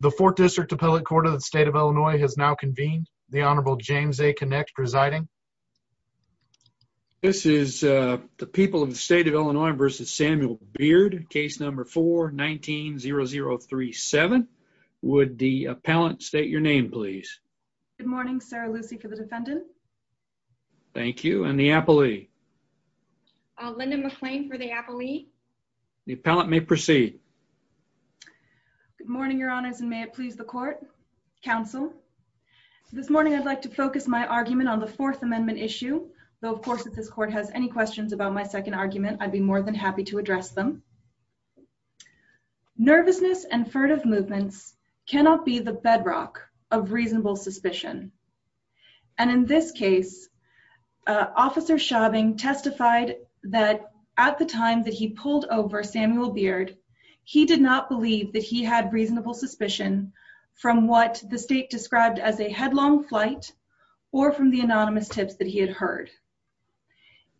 The fourth district appellate court of the state of Illinois has now convened. The Honorable James A. Connick presiding. This is the people of the state of Illinois versus Samuel Beard, case number 419-0037. Would the appellant state your name please? Good morning, Sarah Lucy for the defendant. Thank you, and the appellee? Linda McClain for the appellee. The appellant may proceed. Good morning, Your Honors, and may it please the court, counsel. This morning I'd like to focus my argument on the Fourth Amendment issue, though of course if this court has any questions about my second argument, I'd be more than happy to address them. Nervousness and furtive movements cannot be the bedrock of reasonable suspicion. And in this case, Officer Schaubing testified that at the time that he pulled over Samuel Beard, he did not believe that he had reasonable suspicion from what the state described as a headlong flight or from the anonymous tips that he had heard.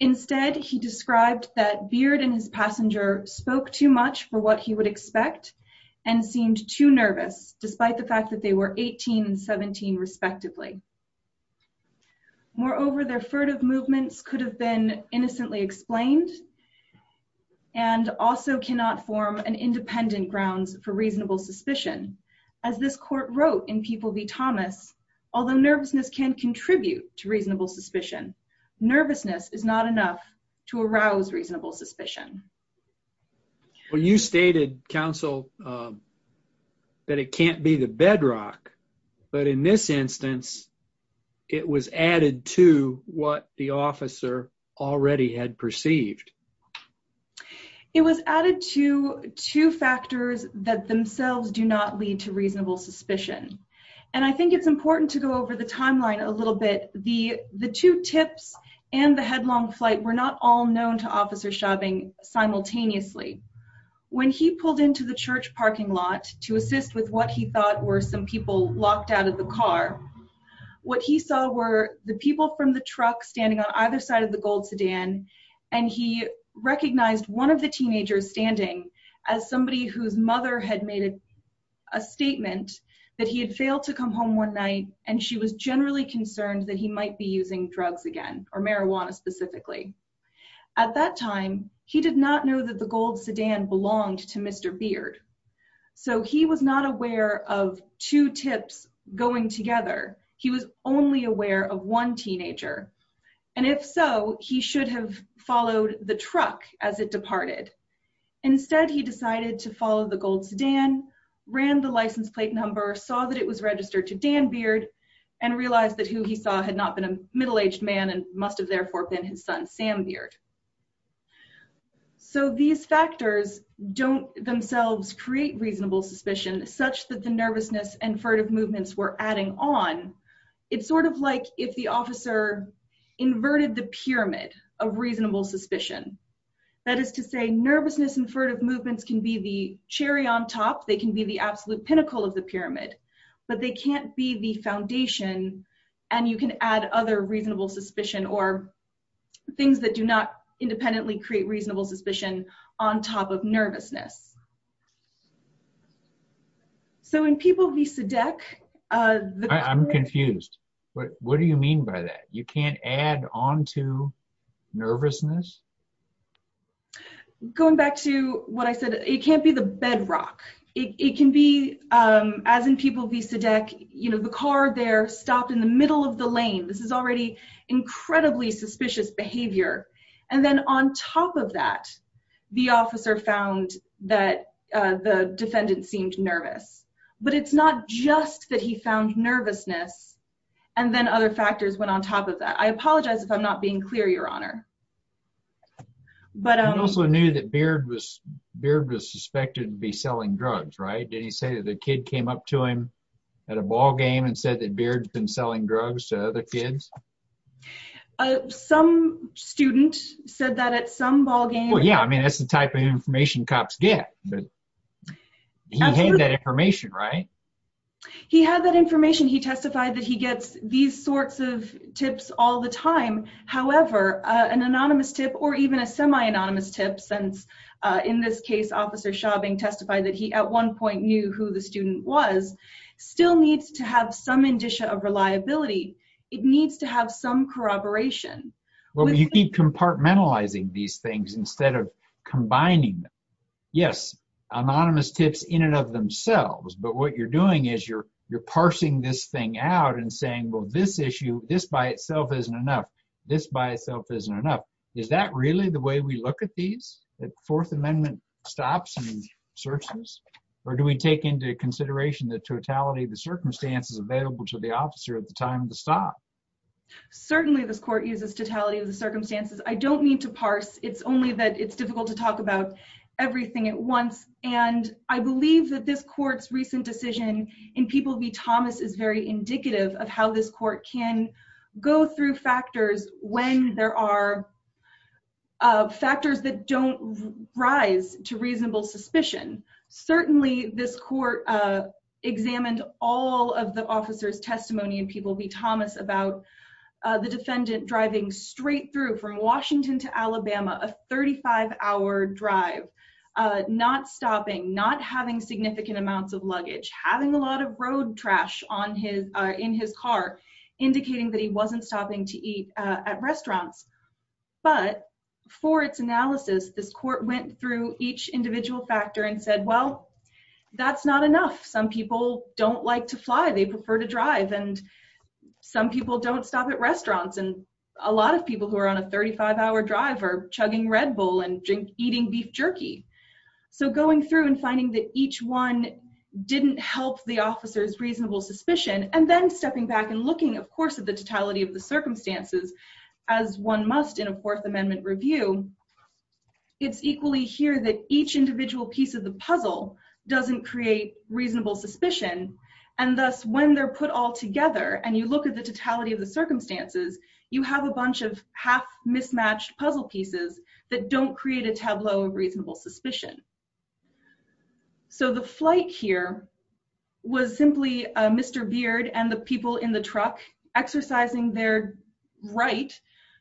Instead, he described that Beard and his passenger spoke too much for what he would expect and seemed too nervous, despite the fact that they were 18 and 17 respectively. Moreover, their furtive movements could have been innocently explained and also cannot form an independent grounds for reasonable suspicion. As this court wrote in People v. Thomas, although nervousness can contribute to reasonable suspicion, nervousness is not enough to arouse reasonable suspicion. Well, you stated, counsel, that it can't be the bedrock, but in this instance, it was added to what the officer already had perceived. It was added to two factors that themselves do not lead to reasonable suspicion. And I think it's important to go over the timeline a little bit. The two tips and the headlong flight were not all known to Officer Schaubing simultaneously. When he pulled into the church parking lot to assist with what he thought were some people locked out of the car, what he saw were the people from the truck standing on either side of the gold sedan, and he recognized one of the teenagers standing as somebody whose mother had made a statement that he had failed to come home one night, and she was generally concerned that he might be using drugs again, or marijuana specifically. At that time, he did not know that the gold sedan belonged to Mr. Beard, so he was not aware of two tips going together. He was only aware of one teenager, and if so, he should have followed the truck as it departed. Instead, he decided to follow the gold sedan, ran the license plate number, saw that it was registered to Dan Beard, and realized that who he saw had not been a middle-aged man and must have therefore been his son, Sam Beard. So these factors don't themselves create reasonable suspicion such that the nervousness and furtive movements were adding on. It's sort of like if the officer inverted the pyramid of reasonable suspicion. That is to say, nervousness and furtive movements can be the cherry on top. They can be the absolute pinnacle of the pyramid, but they can't be the foundation, and you can add other reasonable suspicion or things that do not independently create reasonable suspicion on top of nervousness. So in people vis-a-deck... I'm confused. What do you mean by that? You can't add on to nervousness? Going back to what I said, it can't be the bedrock. It can be, as in people vis-a-deck, you know, the car there stopped in the middle of the lane. This is already incredibly suspicious behavior. And then on top of that, the officer found that the defendant seemed nervous. But it's not just that he found nervousness and then other factors went on top of that. I apologize if I'm not being clear, Your Honor. But I also knew that Beard was suspected of selling drugs, right? Did he say that the kid came up to him at a ball game and said that Beard's been selling drugs to other kids? Some student said that at some ball game. Yeah, I mean, that's the type of information cops get. But he had that information, right? He had that information. He testified that he gets these sorts of tips all the time. However, an anonymous tip or even a semi-anonymous tip, since in this case, Officer Schaubing testified that he at one point knew who the student was, still needs to have some indicia of reliability. It needs to have some corroboration. Well, you keep compartmentalizing these things instead of combining them. Yes, anonymous tips in and of themselves. But what you're doing is you're parsing this thing out and saying, well, this issue, this by itself isn't enough. This by itself isn't enough. Is that really the way we look at these, that Fourth Amendment stops and searches? Or do we take into consideration the totality of the circumstances available to the officer at the time of the stop? Certainly, this court uses totality of the circumstances. I don't mean to parse, it's only that it's difficult to talk about everything at once. And I believe that this court's recent decision in People v. Thomas is very indicative of how this court can go through factors when there are factors that don't rise to reasonable suspicion. Certainly, this court examined all of the officer's testimony in People v. Thomas about the defendant driving straight through from Washington to Alabama, a 35-hour drive, not stopping, not having significant amounts of luggage, having a lot of road trash in his car, indicating that he wasn't stopping to eat at restaurants. But for its analysis, this court went through each individual factor and said, well, that's not enough. Some people don't like to fly. They prefer to drive. And some people don't stop at restaurants. And a lot of people who are on a 35-hour drive are chugging Red Bull and eating beef jerky. So going through and finding that each one didn't help the officer's reasonable suspicion, and then stepping back and looking, of course, at the totality of the circumstances, as one must in a Fourth Amendment review, it's equally here that each individual piece of the puzzle doesn't create reasonable suspicion. And thus, when they're put all together, and you look at the totality of the circumstances, you have a bunch of half-mismatched puzzle pieces that don't create a tableau of reasonable suspicion. So the flight here was simply Mr. Beard and the people in the truck exercising their right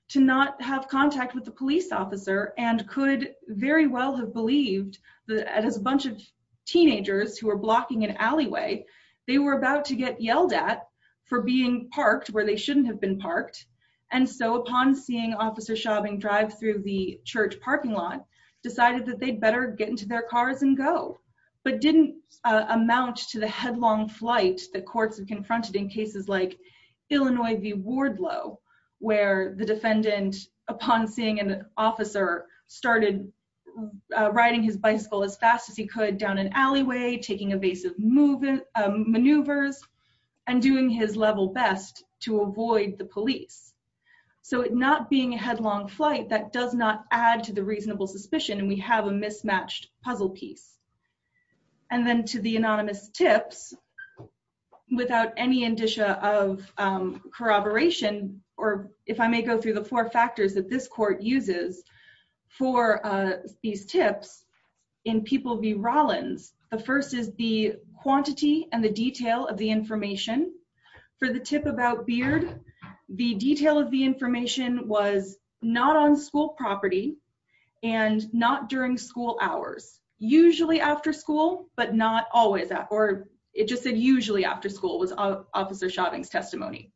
to not have contact with the police officer and could very well have believed that as a bunch of teenagers who were blocking an alleyway, they were about to get yelled at for being parked where they shouldn't have been parked. And so upon seeing Officer Chauvin drive through the church parking lot, decided that they'd better get into their cars and go, but didn't amount to the headlong flight that courts have confronted in cases like Illinois v. Wardlow, where the defendant, upon seeing an officer, started riding his bicycle as fast as he could down an alleyway, taking evasive maneuvers, and doing his level best to avoid the police. So not being a headlong flight, that does not add to the reasonable suspicion, and we have a mismatched puzzle piece. And then to the anonymous tips, without any indicia of corroboration, or if I may go through the four factors that this court uses for these tips, in people v. Rollins, the first is the quantity and the detail of the information. For the tip about Beard, the detail of the information was not on school property, and not during school hours. Usually after school, but not always, or it just said usually after school was Officer Chauvin's testimony.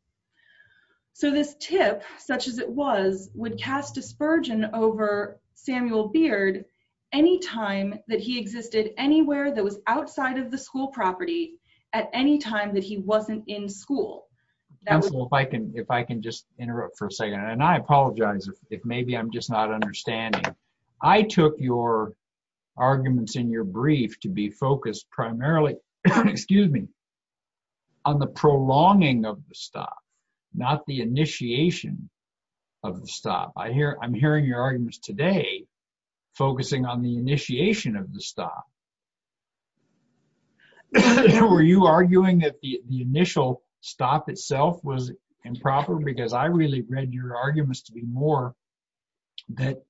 So this tip, such as it was, would cast a spurge over Samuel Beard any time that he existed anywhere that was outside of the school property, at any time that he wasn't in school. Counsel, if I can just interrupt for a second, and I apologize if maybe I'm just not understanding. I took your arguments in your brief to be focused primarily, excuse me, on the prolonging of the stop, not the initiation of the stop. I'm hearing your arguments today focusing on the initiation of the stop. Were you arguing that the initial stop itself was improper? Because I really read your arguments to be more that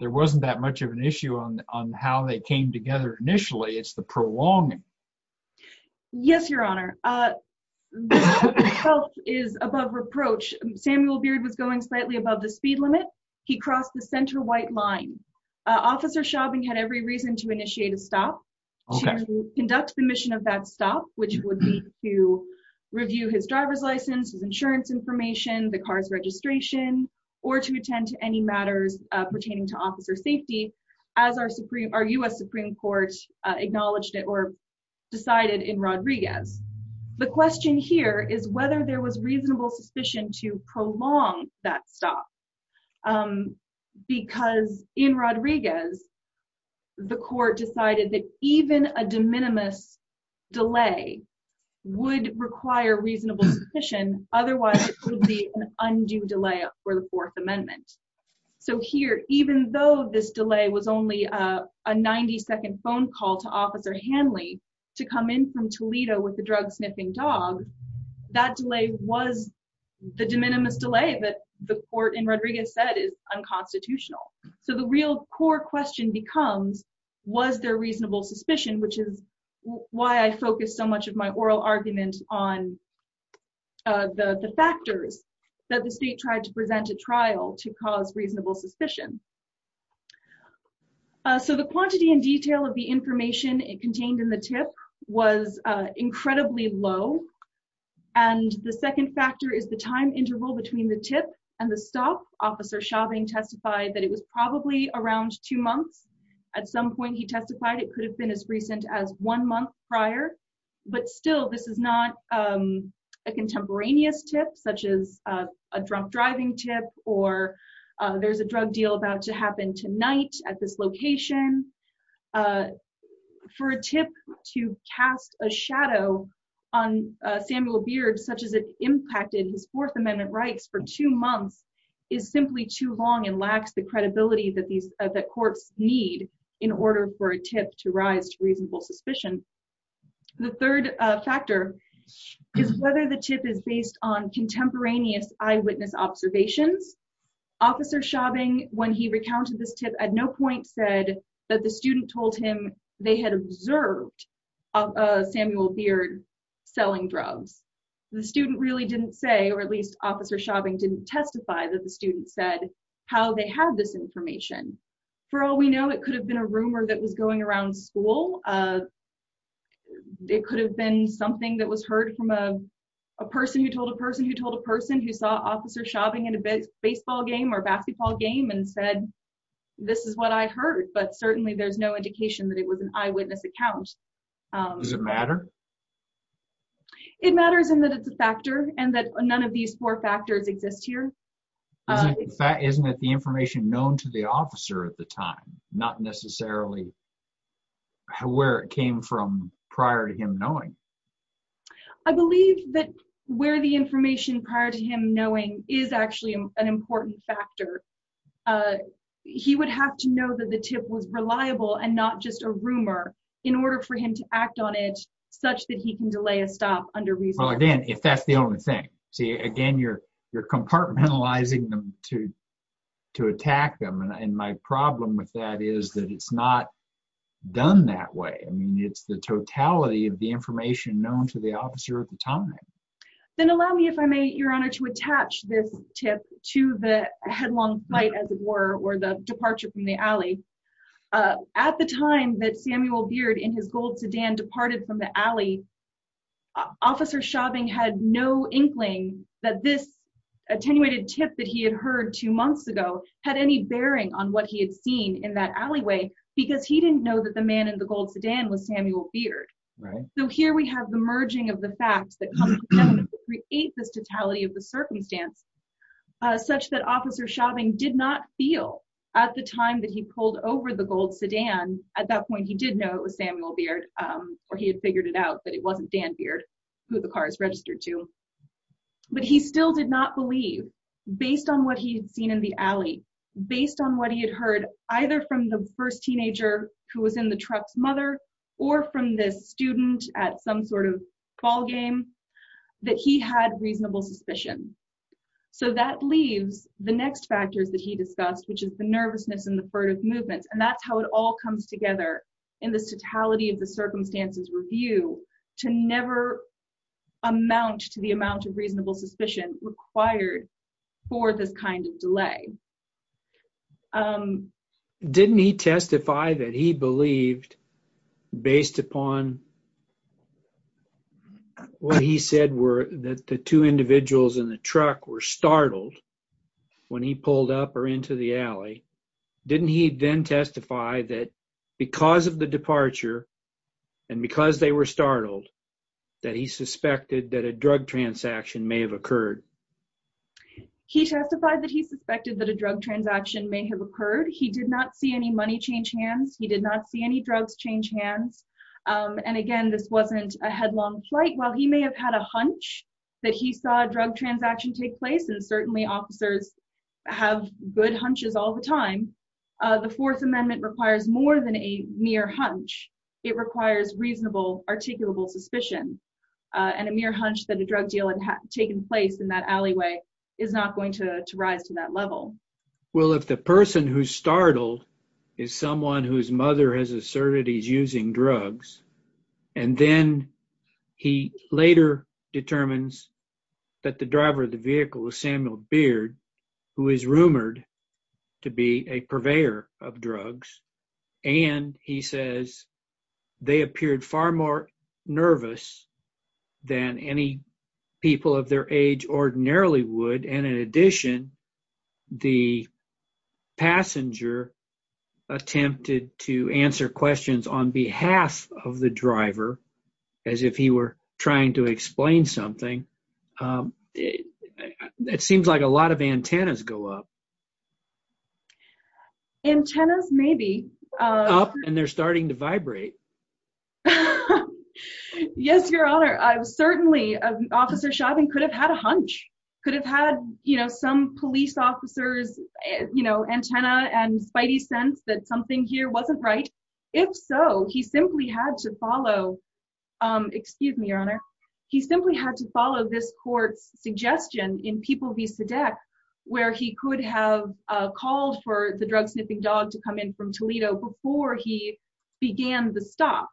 there wasn't that much of an issue on how they came together initially, it's the prolonging. Yes, your honor. This is above reproach. Samuel Beard was going to stop to conduct the mission of that stop, which would be to review his driver's license, his insurance information, the car's registration, or to attend to any matters pertaining to officer safety, as our US Supreme Court acknowledged it or decided in Rodriguez. The question here is whether there was reasonable suspicion to prolong that stop. Because in Rodriguez, the court decided that even a de minimis delay would require reasonable suspicion, otherwise it would be an undue delay for the Fourth Amendment. Here, even though this delay was only a 90-second phone call to Officer Hanley to come in from Toledo with the drug-sniffing dog, that delay was the de minimis delay that the court in Rodriguez said is unconstitutional. The real core question becomes, was there reasonable suspicion, which is why I focus so much of my oral argument on the factors that the state tried to present a trial to cause reasonable suspicion. The quantity and detail of the information contained in the tip was incredibly low. The second factor is the time interval between the tip and the stop. Officer Chauvin testified that it was probably around two months. At some point, he testified it could have been as recent as one month prior. But still, this is not a contemporaneous tip, such as a drunk driving tip or there's a drug deal about to happen tonight at this location. For a tip to cast a shadow on Samuel Beard, such as it impacted his Fourth Amendment claims, is simply too long and lacks the credibility that courts need in order for a tip to rise to reasonable suspicion. The third factor is whether the tip is based on contemporaneous eyewitness observations. Officer Chauvin, when he recounted this tip, at no point said that the student told him they had observed Samuel Beard selling drugs. The student really didn't say, or at least Officer Chauvin didn't testify that the student said how they had this information. For all we know, it could have been a rumor that was going around school. It could have been something that was heard from a person who told a person who told a person who saw Officer Chauvin in a baseball game or basketball game and said, this is what I heard. But certainly, there's no indication that it was an eyewitness account. Does it matter? It matters in that it's a factor and that none of these four factors exist here. Isn't it the information known to the officer at the time, not necessarily where it came from prior to him knowing? I believe that where the information prior to him knowing is actually an important factor. He would have to know that the tip was reliable and not just a rumor in order for him to act on it such that he can delay a stop under reason. Again, if that's the only thing. Again, you're compartmentalizing them to attack them. My problem with that is that it's not done that way. It's the totality of the information known to the officer at the time. Then allow me, if I may, Your Honor, to attach this tip to the headlong fight as it were, or the departure from the alley. At the time that Samuel Beard in his gold sedan departed from the alley, Officer Chauvin had no inkling that this attenuated tip that he had heard two months ago had any bearing on what he had seen in that alleyway because he didn't know that the man in the gold sedan was Samuel Beard. Here we have the merging of the field at the time that he pulled over the gold sedan. At that point, he did know it was Samuel Beard or he had figured it out that it wasn't Dan Beard who the car is registered to. But he still did not believe based on what he had seen in the alley, based on what he had heard either from the first teenager who was in the truck's mother or from this student at some ballgame, that he had reasonable suspicion. That leaves the next factors that he discussed, which is the nervousness and the furtive movements. That's how it all comes together in this totality of the circumstances review to never amount to the amount of reasonable suspicion required for this kind of delay. Didn't he testify that he believed based upon what he said were that the two individuals in the truck were startled when he pulled up or into the alley? Didn't he then testify that because of the departure and because they were startled that he suspected that a drug transaction may have occurred? He testified that he suspected that a drug transaction may have occurred. He did not see money change hands. He did not see any drugs change hands. Again, this wasn't a headlong plight. While he may have had a hunch that he saw a drug transaction take place, and certainly officers have good hunches all the time, the Fourth Amendment requires more than a mere hunch. It requires reasonable, articulable suspicion. A mere hunch that a drug deal had taken place in someone whose mother has asserted he's using drugs. Then he later determines that the driver of the vehicle is Samuel Beard, who is rumored to be a purveyor of drugs. He says they appeared far more nervous than any people of their age ordinarily would. In addition, the passenger attempted to answer questions on behalf of the driver as if he were trying to explain something. It seems like a lot of antennas go up. Antennas maybe. Up and they're starting to vibrate. Yes, Your Honor. Certainly, Officer Chauvin could have had a hunch. Could have had, you know, some police officers, you know, antenna and spidey sense that something here wasn't right. If so, he simply had to follow, excuse me, Your Honor, he simply had to follow this court's suggestion in People v. Sedek, where he could have called for the drug-sniffing dog to come in from Toledo before he began the stop.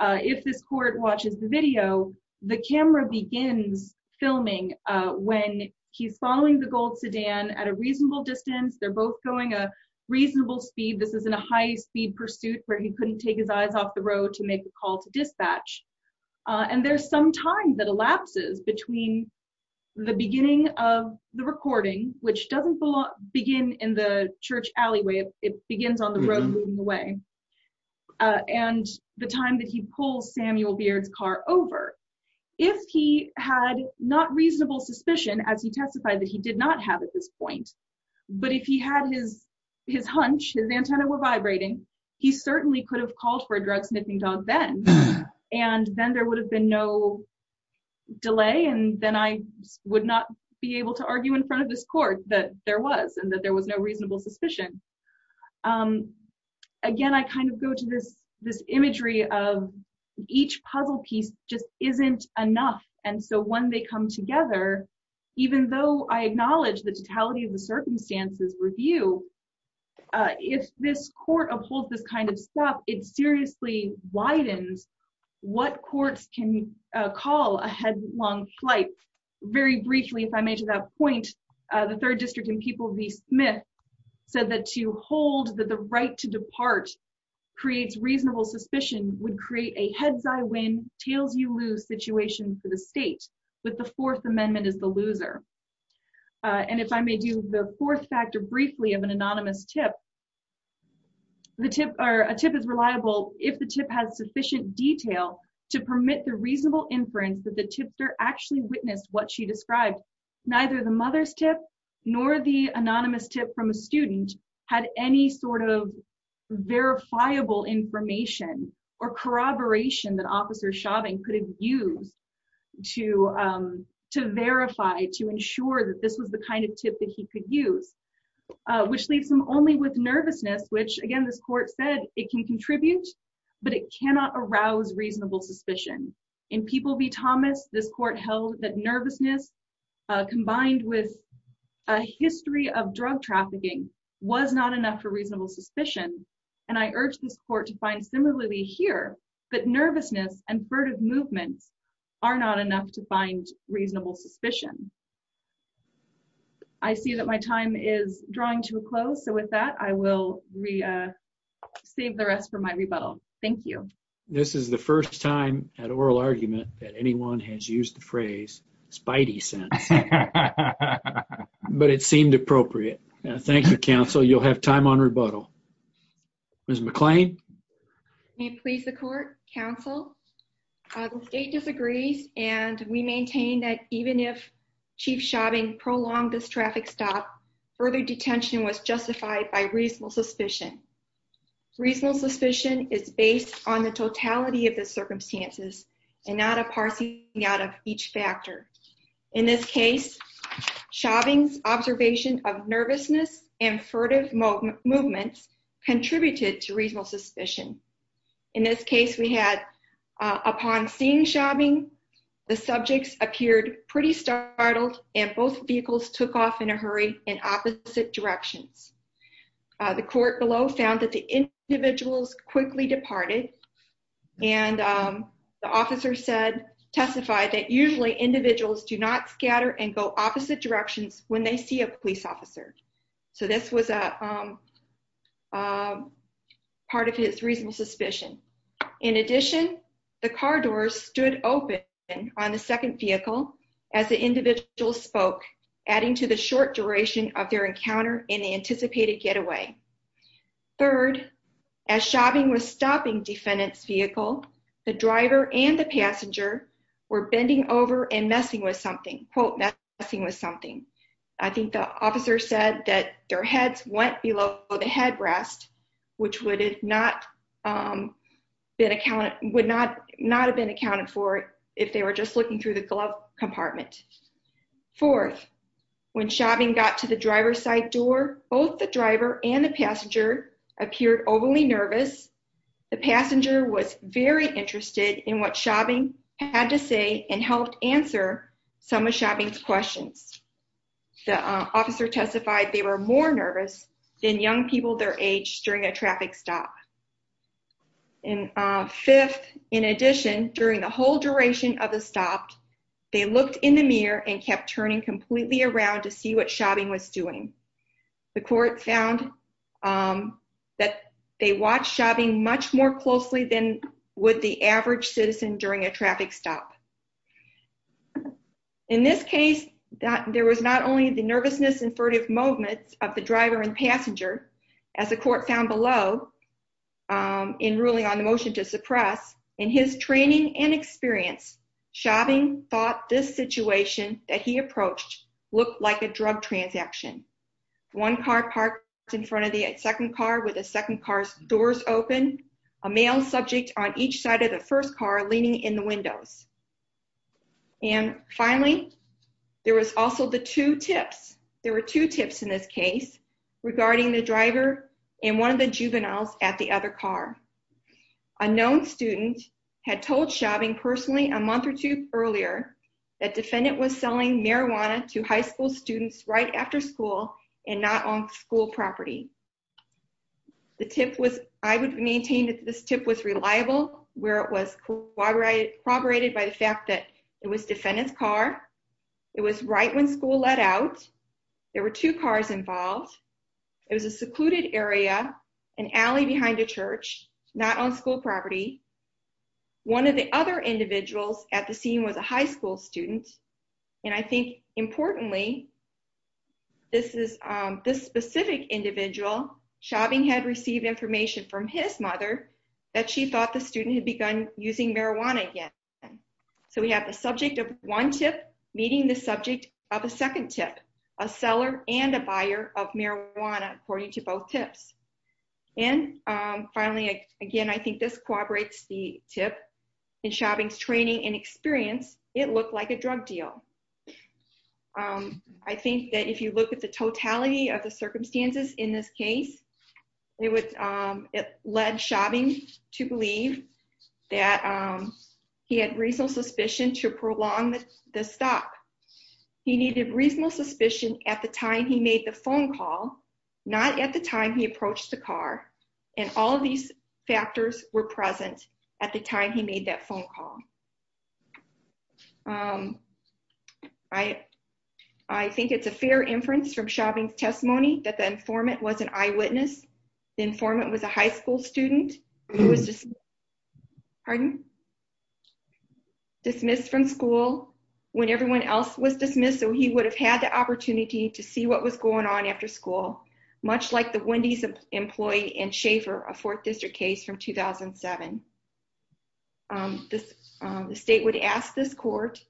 If this court watches the video, the camera begins filming when he's following the gold sedan at a reasonable distance. They're both going a reasonable speed. This is in a high-speed pursuit where he couldn't take his eyes off the road to make a call to dispatch. And there's some time that elapses between the beginning of the recording, which doesn't begin in the church alleyway, it begins on the road moving away, and the time that he pulls Samuel Beard's car over. If he had not reasonable suspicion, as he testified that he did not have at this point, but if he had his hunch, his antenna were vibrating, he certainly could have called for a drug-sniffing dog then. And then there would have been no delay, and then I would not be able to argue in front of this court that there was, that there was no reasonable suspicion. Again, I kind of go to this imagery of each puzzle piece just isn't enough. And so when they come together, even though I acknowledge the totality of the circumstances review, if this court upholds this kind of stuff, it seriously widens what courts can call a headlong flight. Very briefly, if I made to that point, the third district in People v. Smith said that to hold that the right to depart creates reasonable suspicion would create a heads-I-win, tails-you-lose situation for the state, but the Fourth Amendment is the loser. And if I may do the fourth factor briefly of an anonymous tip, the tip, or a tip is reliable if the tip has sufficient detail to permit the reasonable inference that the tipster actually witnessed what she described. Neither the mother's tip nor the anonymous tip from a student had any sort of verifiable information or corroboration that Officer Chauvin could have used to verify, to ensure that this was the kind of tip that he could use, which leaves him only with nervousness, which again, this court said it can contribute, but it cannot arouse reasonable suspicion. In People v. Thomas, this court held that nervousness combined with a history of drug trafficking was not enough for reasonable suspicion, and I urge this court to find similarly here, that nervousness and furtive movements are not enough to find reasonable suspicion. I see that my time is drawing to a close, so with that, I will save the rest for my rebuttal. Thank you. This is the first time at oral argument that anyone has used the phrase spidey sense, but it seemed appropriate. Thank you, counsel. You'll have time on rebuttal. Ms. McClain? May it please the court, counsel, the state disagrees, and we maintain that even if reasonable suspicion. Reasonable suspicion is based on the totality of the circumstances and not a parsing out of each factor. In this case, Chauvin's observation of nervousness and furtive movements contributed to reasonable suspicion. In this case, we had, upon seeing Chauvin, the subjects appeared pretty startled, and both vehicles took off in a hurry in opposite directions. The court below found that the individuals quickly departed, and the officer testified that usually individuals do not scatter and go opposite directions when they see a police officer, so this was part of his reasonable suspicion. In addition, the car doors stood open on the second vehicle as the individual spoke, adding to the short duration of their encounter in the anticipated getaway. Third, as Chauvin was stopping defendant's vehicle, the driver and the passenger were bending over and messing with something, quote, messing with something. I think the officer said that their heads went below the headrest, which would not have been accounted for if they were just looking through the glove compartment. Fourth, when Chauvin got to the driver's side door, both the driver and the passenger appeared overly nervous. The passenger was very interested in what Chauvin had to say and helped answer some of Chauvin's questions. The officer testified they were more nervous than young people their age during a traffic stop. Fifth, in addition, during the whole duration of the stop, they looked in the mirror and kept turning completely around to see what Chauvin was doing. The court found that they watched Chauvin much more closely than would the average citizen during a traffic stop. In this case, there was not only the nervousness and furtive movements of the driver and passenger, as the court found below in ruling on the motion to suppress, in his training and experience, Chauvin thought this situation that he approached looked like a drug transaction. One car parked in front of the second car with the second car's doors open, a male subject on each side of the first car leaning in the windows. And finally, there was also the two tips, there were two tips in this case regarding the driver and one of the juveniles at the other car. A known student had told Chauvin personally a month or two earlier that defendant was selling marijuana to high school students right after school and not on school property. The tip was, I would maintain that this tip was reliable where it was corroborated by the fact that it was defendant's It was right when school let out. There were two cars involved. It was a secluded area, an alley behind a church, not on school property. One of the other individuals at the scene was a high school student. And I think importantly, this specific individual, Chauvin had received information from his mother that she thought the student had begun using marijuana again. So we have the subject of one tip meeting the subject of a second tip, a seller and a buyer of marijuana according to both tips. And finally, again, I think this corroborates the tip in Chauvin's training and experience, it looked like a drug deal. I think that if you look at the totality of the circumstances in this case, it led Chauvin to believe that he had reasonable suspicion to prolong the stop. He needed reasonable suspicion at the time he made the phone call, not at the time he approached the car. And all these factors were present at the time he made that phone call. I think it's a fair inference from Chauvin's testimony that the informant was an eyewitness. The informant was a high school student who was just, pardon? Dismissed from school when everyone else was dismissed. So he would have had the opportunity to see what was going on after school, much like the Wendy's employee and Schaefer, a fourth district case from 2007. The state would ask this court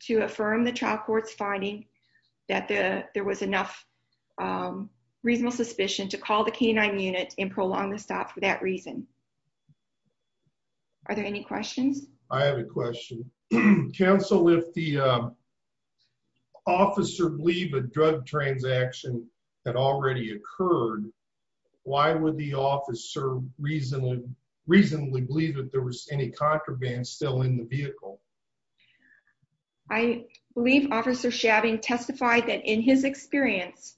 to affirm the trial court's finding that there was enough reasonable suspicion to call the canine unit and prolong the stop for that reason. Are there any questions? I have a question. Counsel, if the officer believed a drug transaction had already occurred, why would the officer reasonably believe that there was any contraband still in the vehicle? I believe Officer Chauvin testified that in his experience,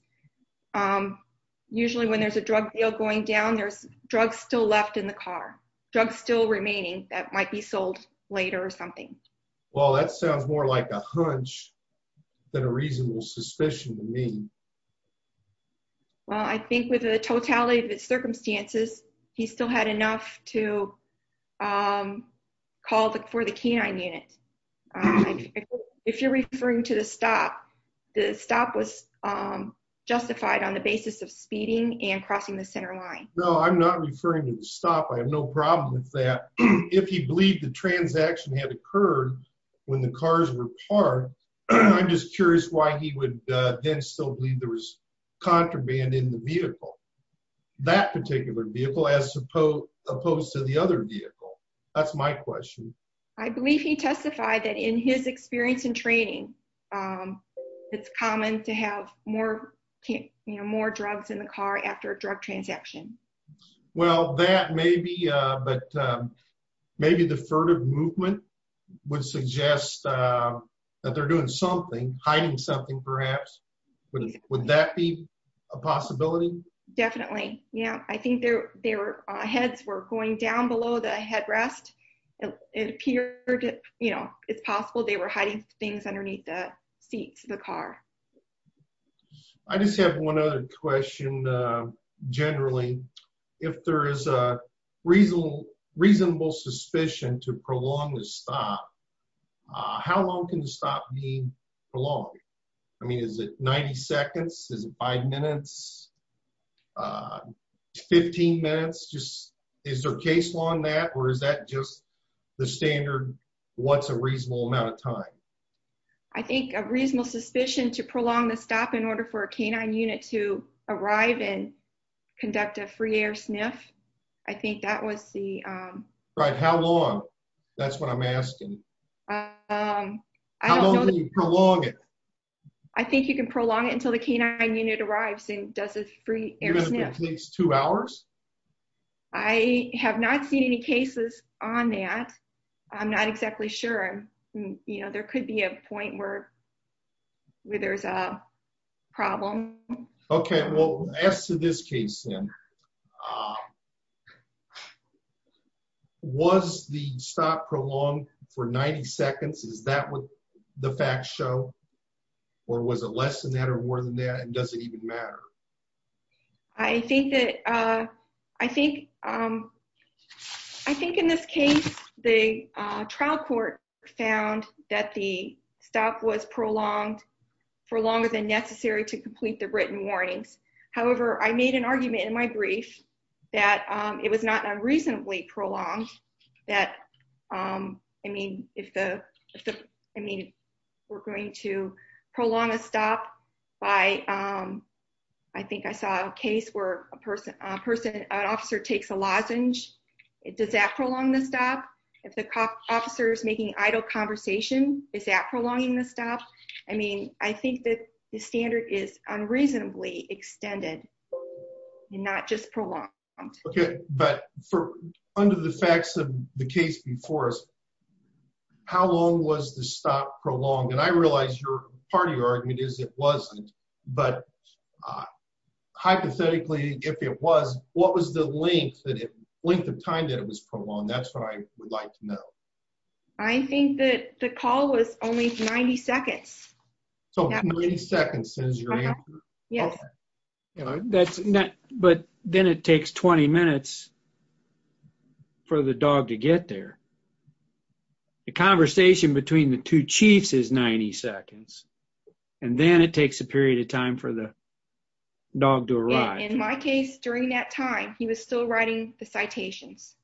usually when there's a drug deal going down, there's drugs still left in the car, drugs still remaining that might be sold later or something. Well, that sounds more like a hunch than a reasonable suspicion to me. Well, I think with the totality of his circumstances, he still had enough to call for the canine unit. If you're referring to the stop, the stop was justified on the basis of speeding and crossing the center line. No, I'm not referring to the stop. I have no problem with that. If he believed the transaction had occurred when the cars were parked, I'm just curious why he would then still believe there was contraband in the vehicle. That particular vehicle as opposed to the other vehicle. That's my question. I believe he testified that in his experience and training, it's common to have more drugs in the car after a drug transaction. Well, that may be, but maybe the furtive movement would suggest that they're hiding something perhaps. Would that be a possibility? Definitely. I think their heads were going down below the headrest. It appeared it's possible they were hiding things underneath the seats of the car. I just have one other question generally. If there is a reasonable suspicion to prolong the stop, how long can the stop be prolonged? Is it 90 seconds? Is it five minutes? 15 minutes? Is there a case along that or is that just the standard what's a reasonable amount of time? I think a reasonable suspicion to prolong the stop in order for a canine unit to arrive. How long? That's what I'm asking. How long can you prolong it? I think you can prolong it until the canine unit arrives and does a free air sniff. Two hours? I have not seen any cases on that. I'm not exactly sure. There could be a point where there's a problem. Okay. Well, as to this case then, was the stop prolonged for 90 seconds? Is that what the facts show or was it less than that or more than that and does it even matter? I think in this case, the trial court found that the stop was prolonged for longer than necessary to complete the written warnings. However, I made an argument in my brief that it was not unreasonably prolonged, that if we're going to prolong a stop by, I think I saw a case where an officer takes a lozenge, does that prolong the stop? If the officer is making idle conversation, is that prolonging the stop? I mean, I think that the standard is unreasonably extended and not just prolonged. Okay. But under the facts of the case before us, how long was the stop prolonged? And I realize part of your argument is it wasn't, but hypothetically, if it was, what was the length of time that it was prolonged? That's what I would like to know. I think that the call was only 90 seconds. So 90 seconds is your answer? Yes. But then it takes 20 minutes for the dog to get there. The conversation between the two chiefs is 90 seconds and then it takes a period of time for the dog to arrive. In my case, during that time, he was still writing the citations.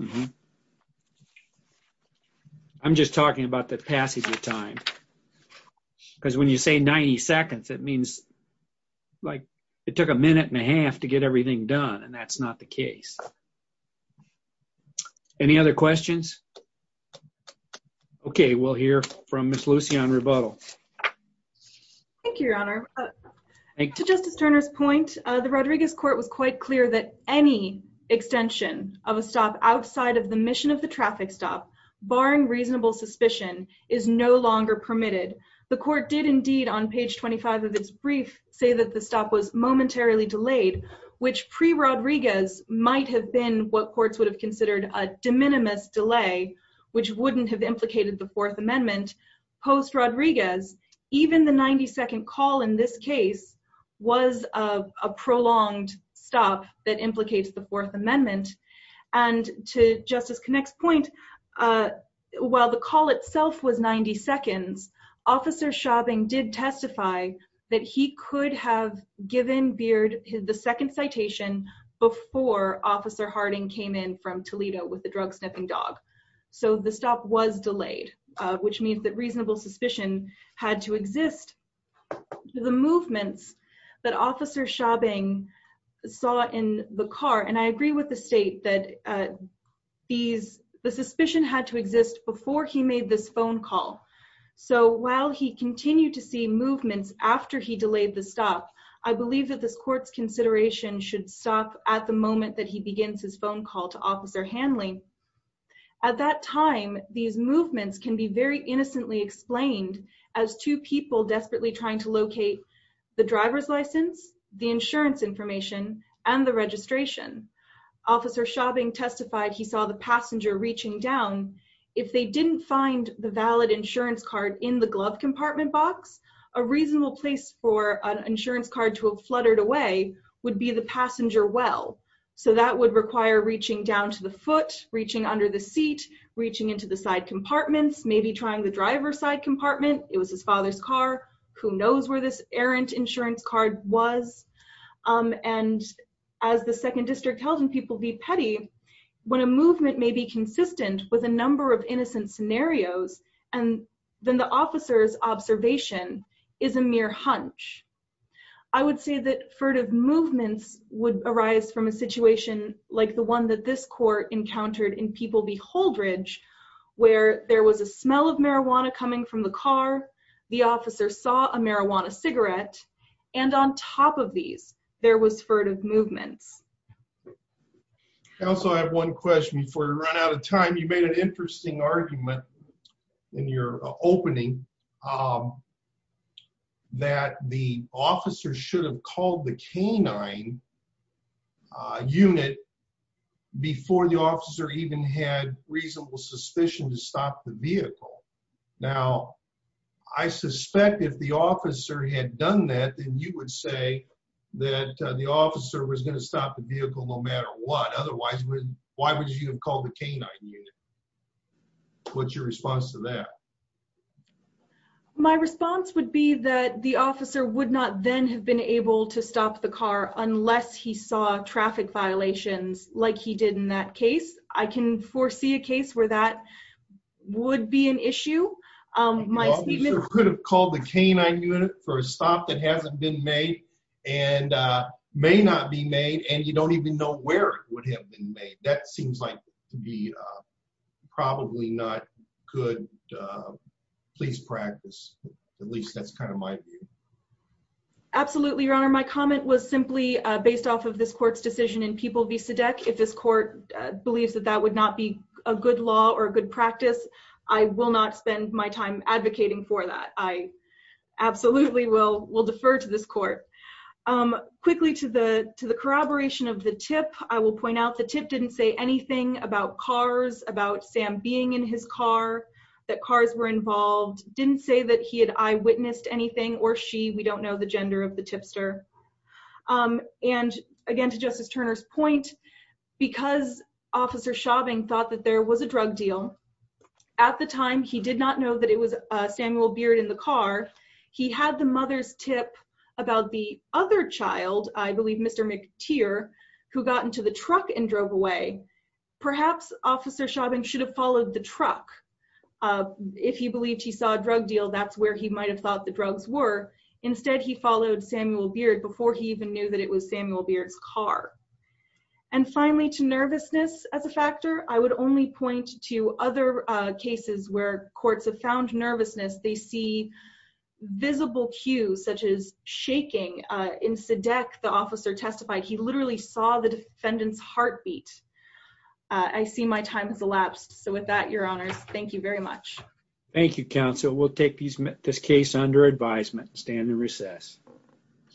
I'm just talking about the passage of time. Because when you say 90 seconds, it means like it took a minute and a half to get everything done. And that's not the case. Any other questions? Okay. We'll hear from Ms. Lucie on rebuttal. Thank you, Your Honor. To Justice Turner's point, the Rodriguez court was quite clear that any extension of a stop outside of the mission of the traffic stop, barring reasonable suspicion, is no longer permitted. The court did indeed on page 25 of this brief say that the stop was momentarily delayed, which pre-Rodriguez might have been what courts would have considered a Fourth Amendment. Post-Rodriguez, even the 90 second call in this case was a prolonged stop that implicates the Fourth Amendment. And to Justice Connick's point, while the call itself was 90 seconds, Officer Schaubing did testify that he could have given Beard the second citation before Officer Harding came in from Toledo with the drug sniffing dog. So the stop was delayed. Which means that reasonable suspicion had to exist. The movements that Officer Schaubing saw in the car, and I agree with the state that the suspicion had to exist before he made this phone call. So while he continued to see movements after he delayed the stop, I believe that this court's consideration should stop at the moment that he begins his phone call to Officer Hanley. At that time, these movements can be very innocently explained as two people desperately trying to locate the driver's license, the insurance information, and the registration. Officer Schaubing testified he saw the passenger reaching down. If they didn't find the valid insurance card in the glove compartment box, a reasonable place for an insurance card to have reached under the seat, reaching into the side compartments, maybe trying the driver's side compartment. It was his father's car. Who knows where this errant insurance card was. And as the Second District tells people to be petty, when a movement may be consistent with a number of innocent scenarios, then the officer's observation is a mere hunch. I would say that furtive movements would arise from a situation like the one that this court encountered in People v. Holdridge, where there was a smell of marijuana coming from the car, the officer saw a marijuana cigarette, and on top of these, there was furtive movements. I also have one question before we run out of time. You made an interesting argument in your opening that the officer should have called the K-9 unit before the officer even had reasonable suspicion to stop the vehicle. Now, I suspect if the officer had done that, then you would say that the officer was going to stop the vehicle no matter what. Otherwise, why would you have called the K-9 unit? What's your response to that? My response would be that the officer would not then have been able to stop the car unless he saw traffic violations like he did in that case. I can foresee a case where that would be an issue. The officer could have called the K-9 unit for a stop that hasn't been made and may not be made, and you don't even know where it would have been made. That seems to be probably not good police practice. At least, that's kind of my view. Absolutely, Your Honor. My comment was simply based off of this court's decision in People v. Sedek. If this court believes that that would not be a good law or a good practice, I will not spend my time advocating for that. I absolutely will defer to this court. Quickly to the corroboration of the tip, I will point out the tip didn't say anything about cars, about Sam being in his car, that cars were involved. Didn't say that he had eyewitnessed anything or she. We don't know the gender of the tipster. Again, to Justice Turner's point, because Officer Schaubing thought that there was a drug deal, at the time, he did not know that it was Samuel Beard in the car. He had the mother's tip about the other child, I believe Mr. McTeer, who got into the truck and drove away. Perhaps Officer Schaubing should have followed the truck. If he believed he saw a drug deal, that's where he might have thought the drugs were. Instead, he followed Samuel Beard before he even knew that it was Samuel Beard's car. Finally, to nervousness as a factor, I would only point to other cases where courts have found nervousness. They see visible cues such as shaking. In Sedeck, the officer testified he literally saw the defendant's heartbeat. I see my time has elapsed. With that, Your Honors, thank you very much. Thank you, counsel. We'll take this case under advisement. Stand in recess.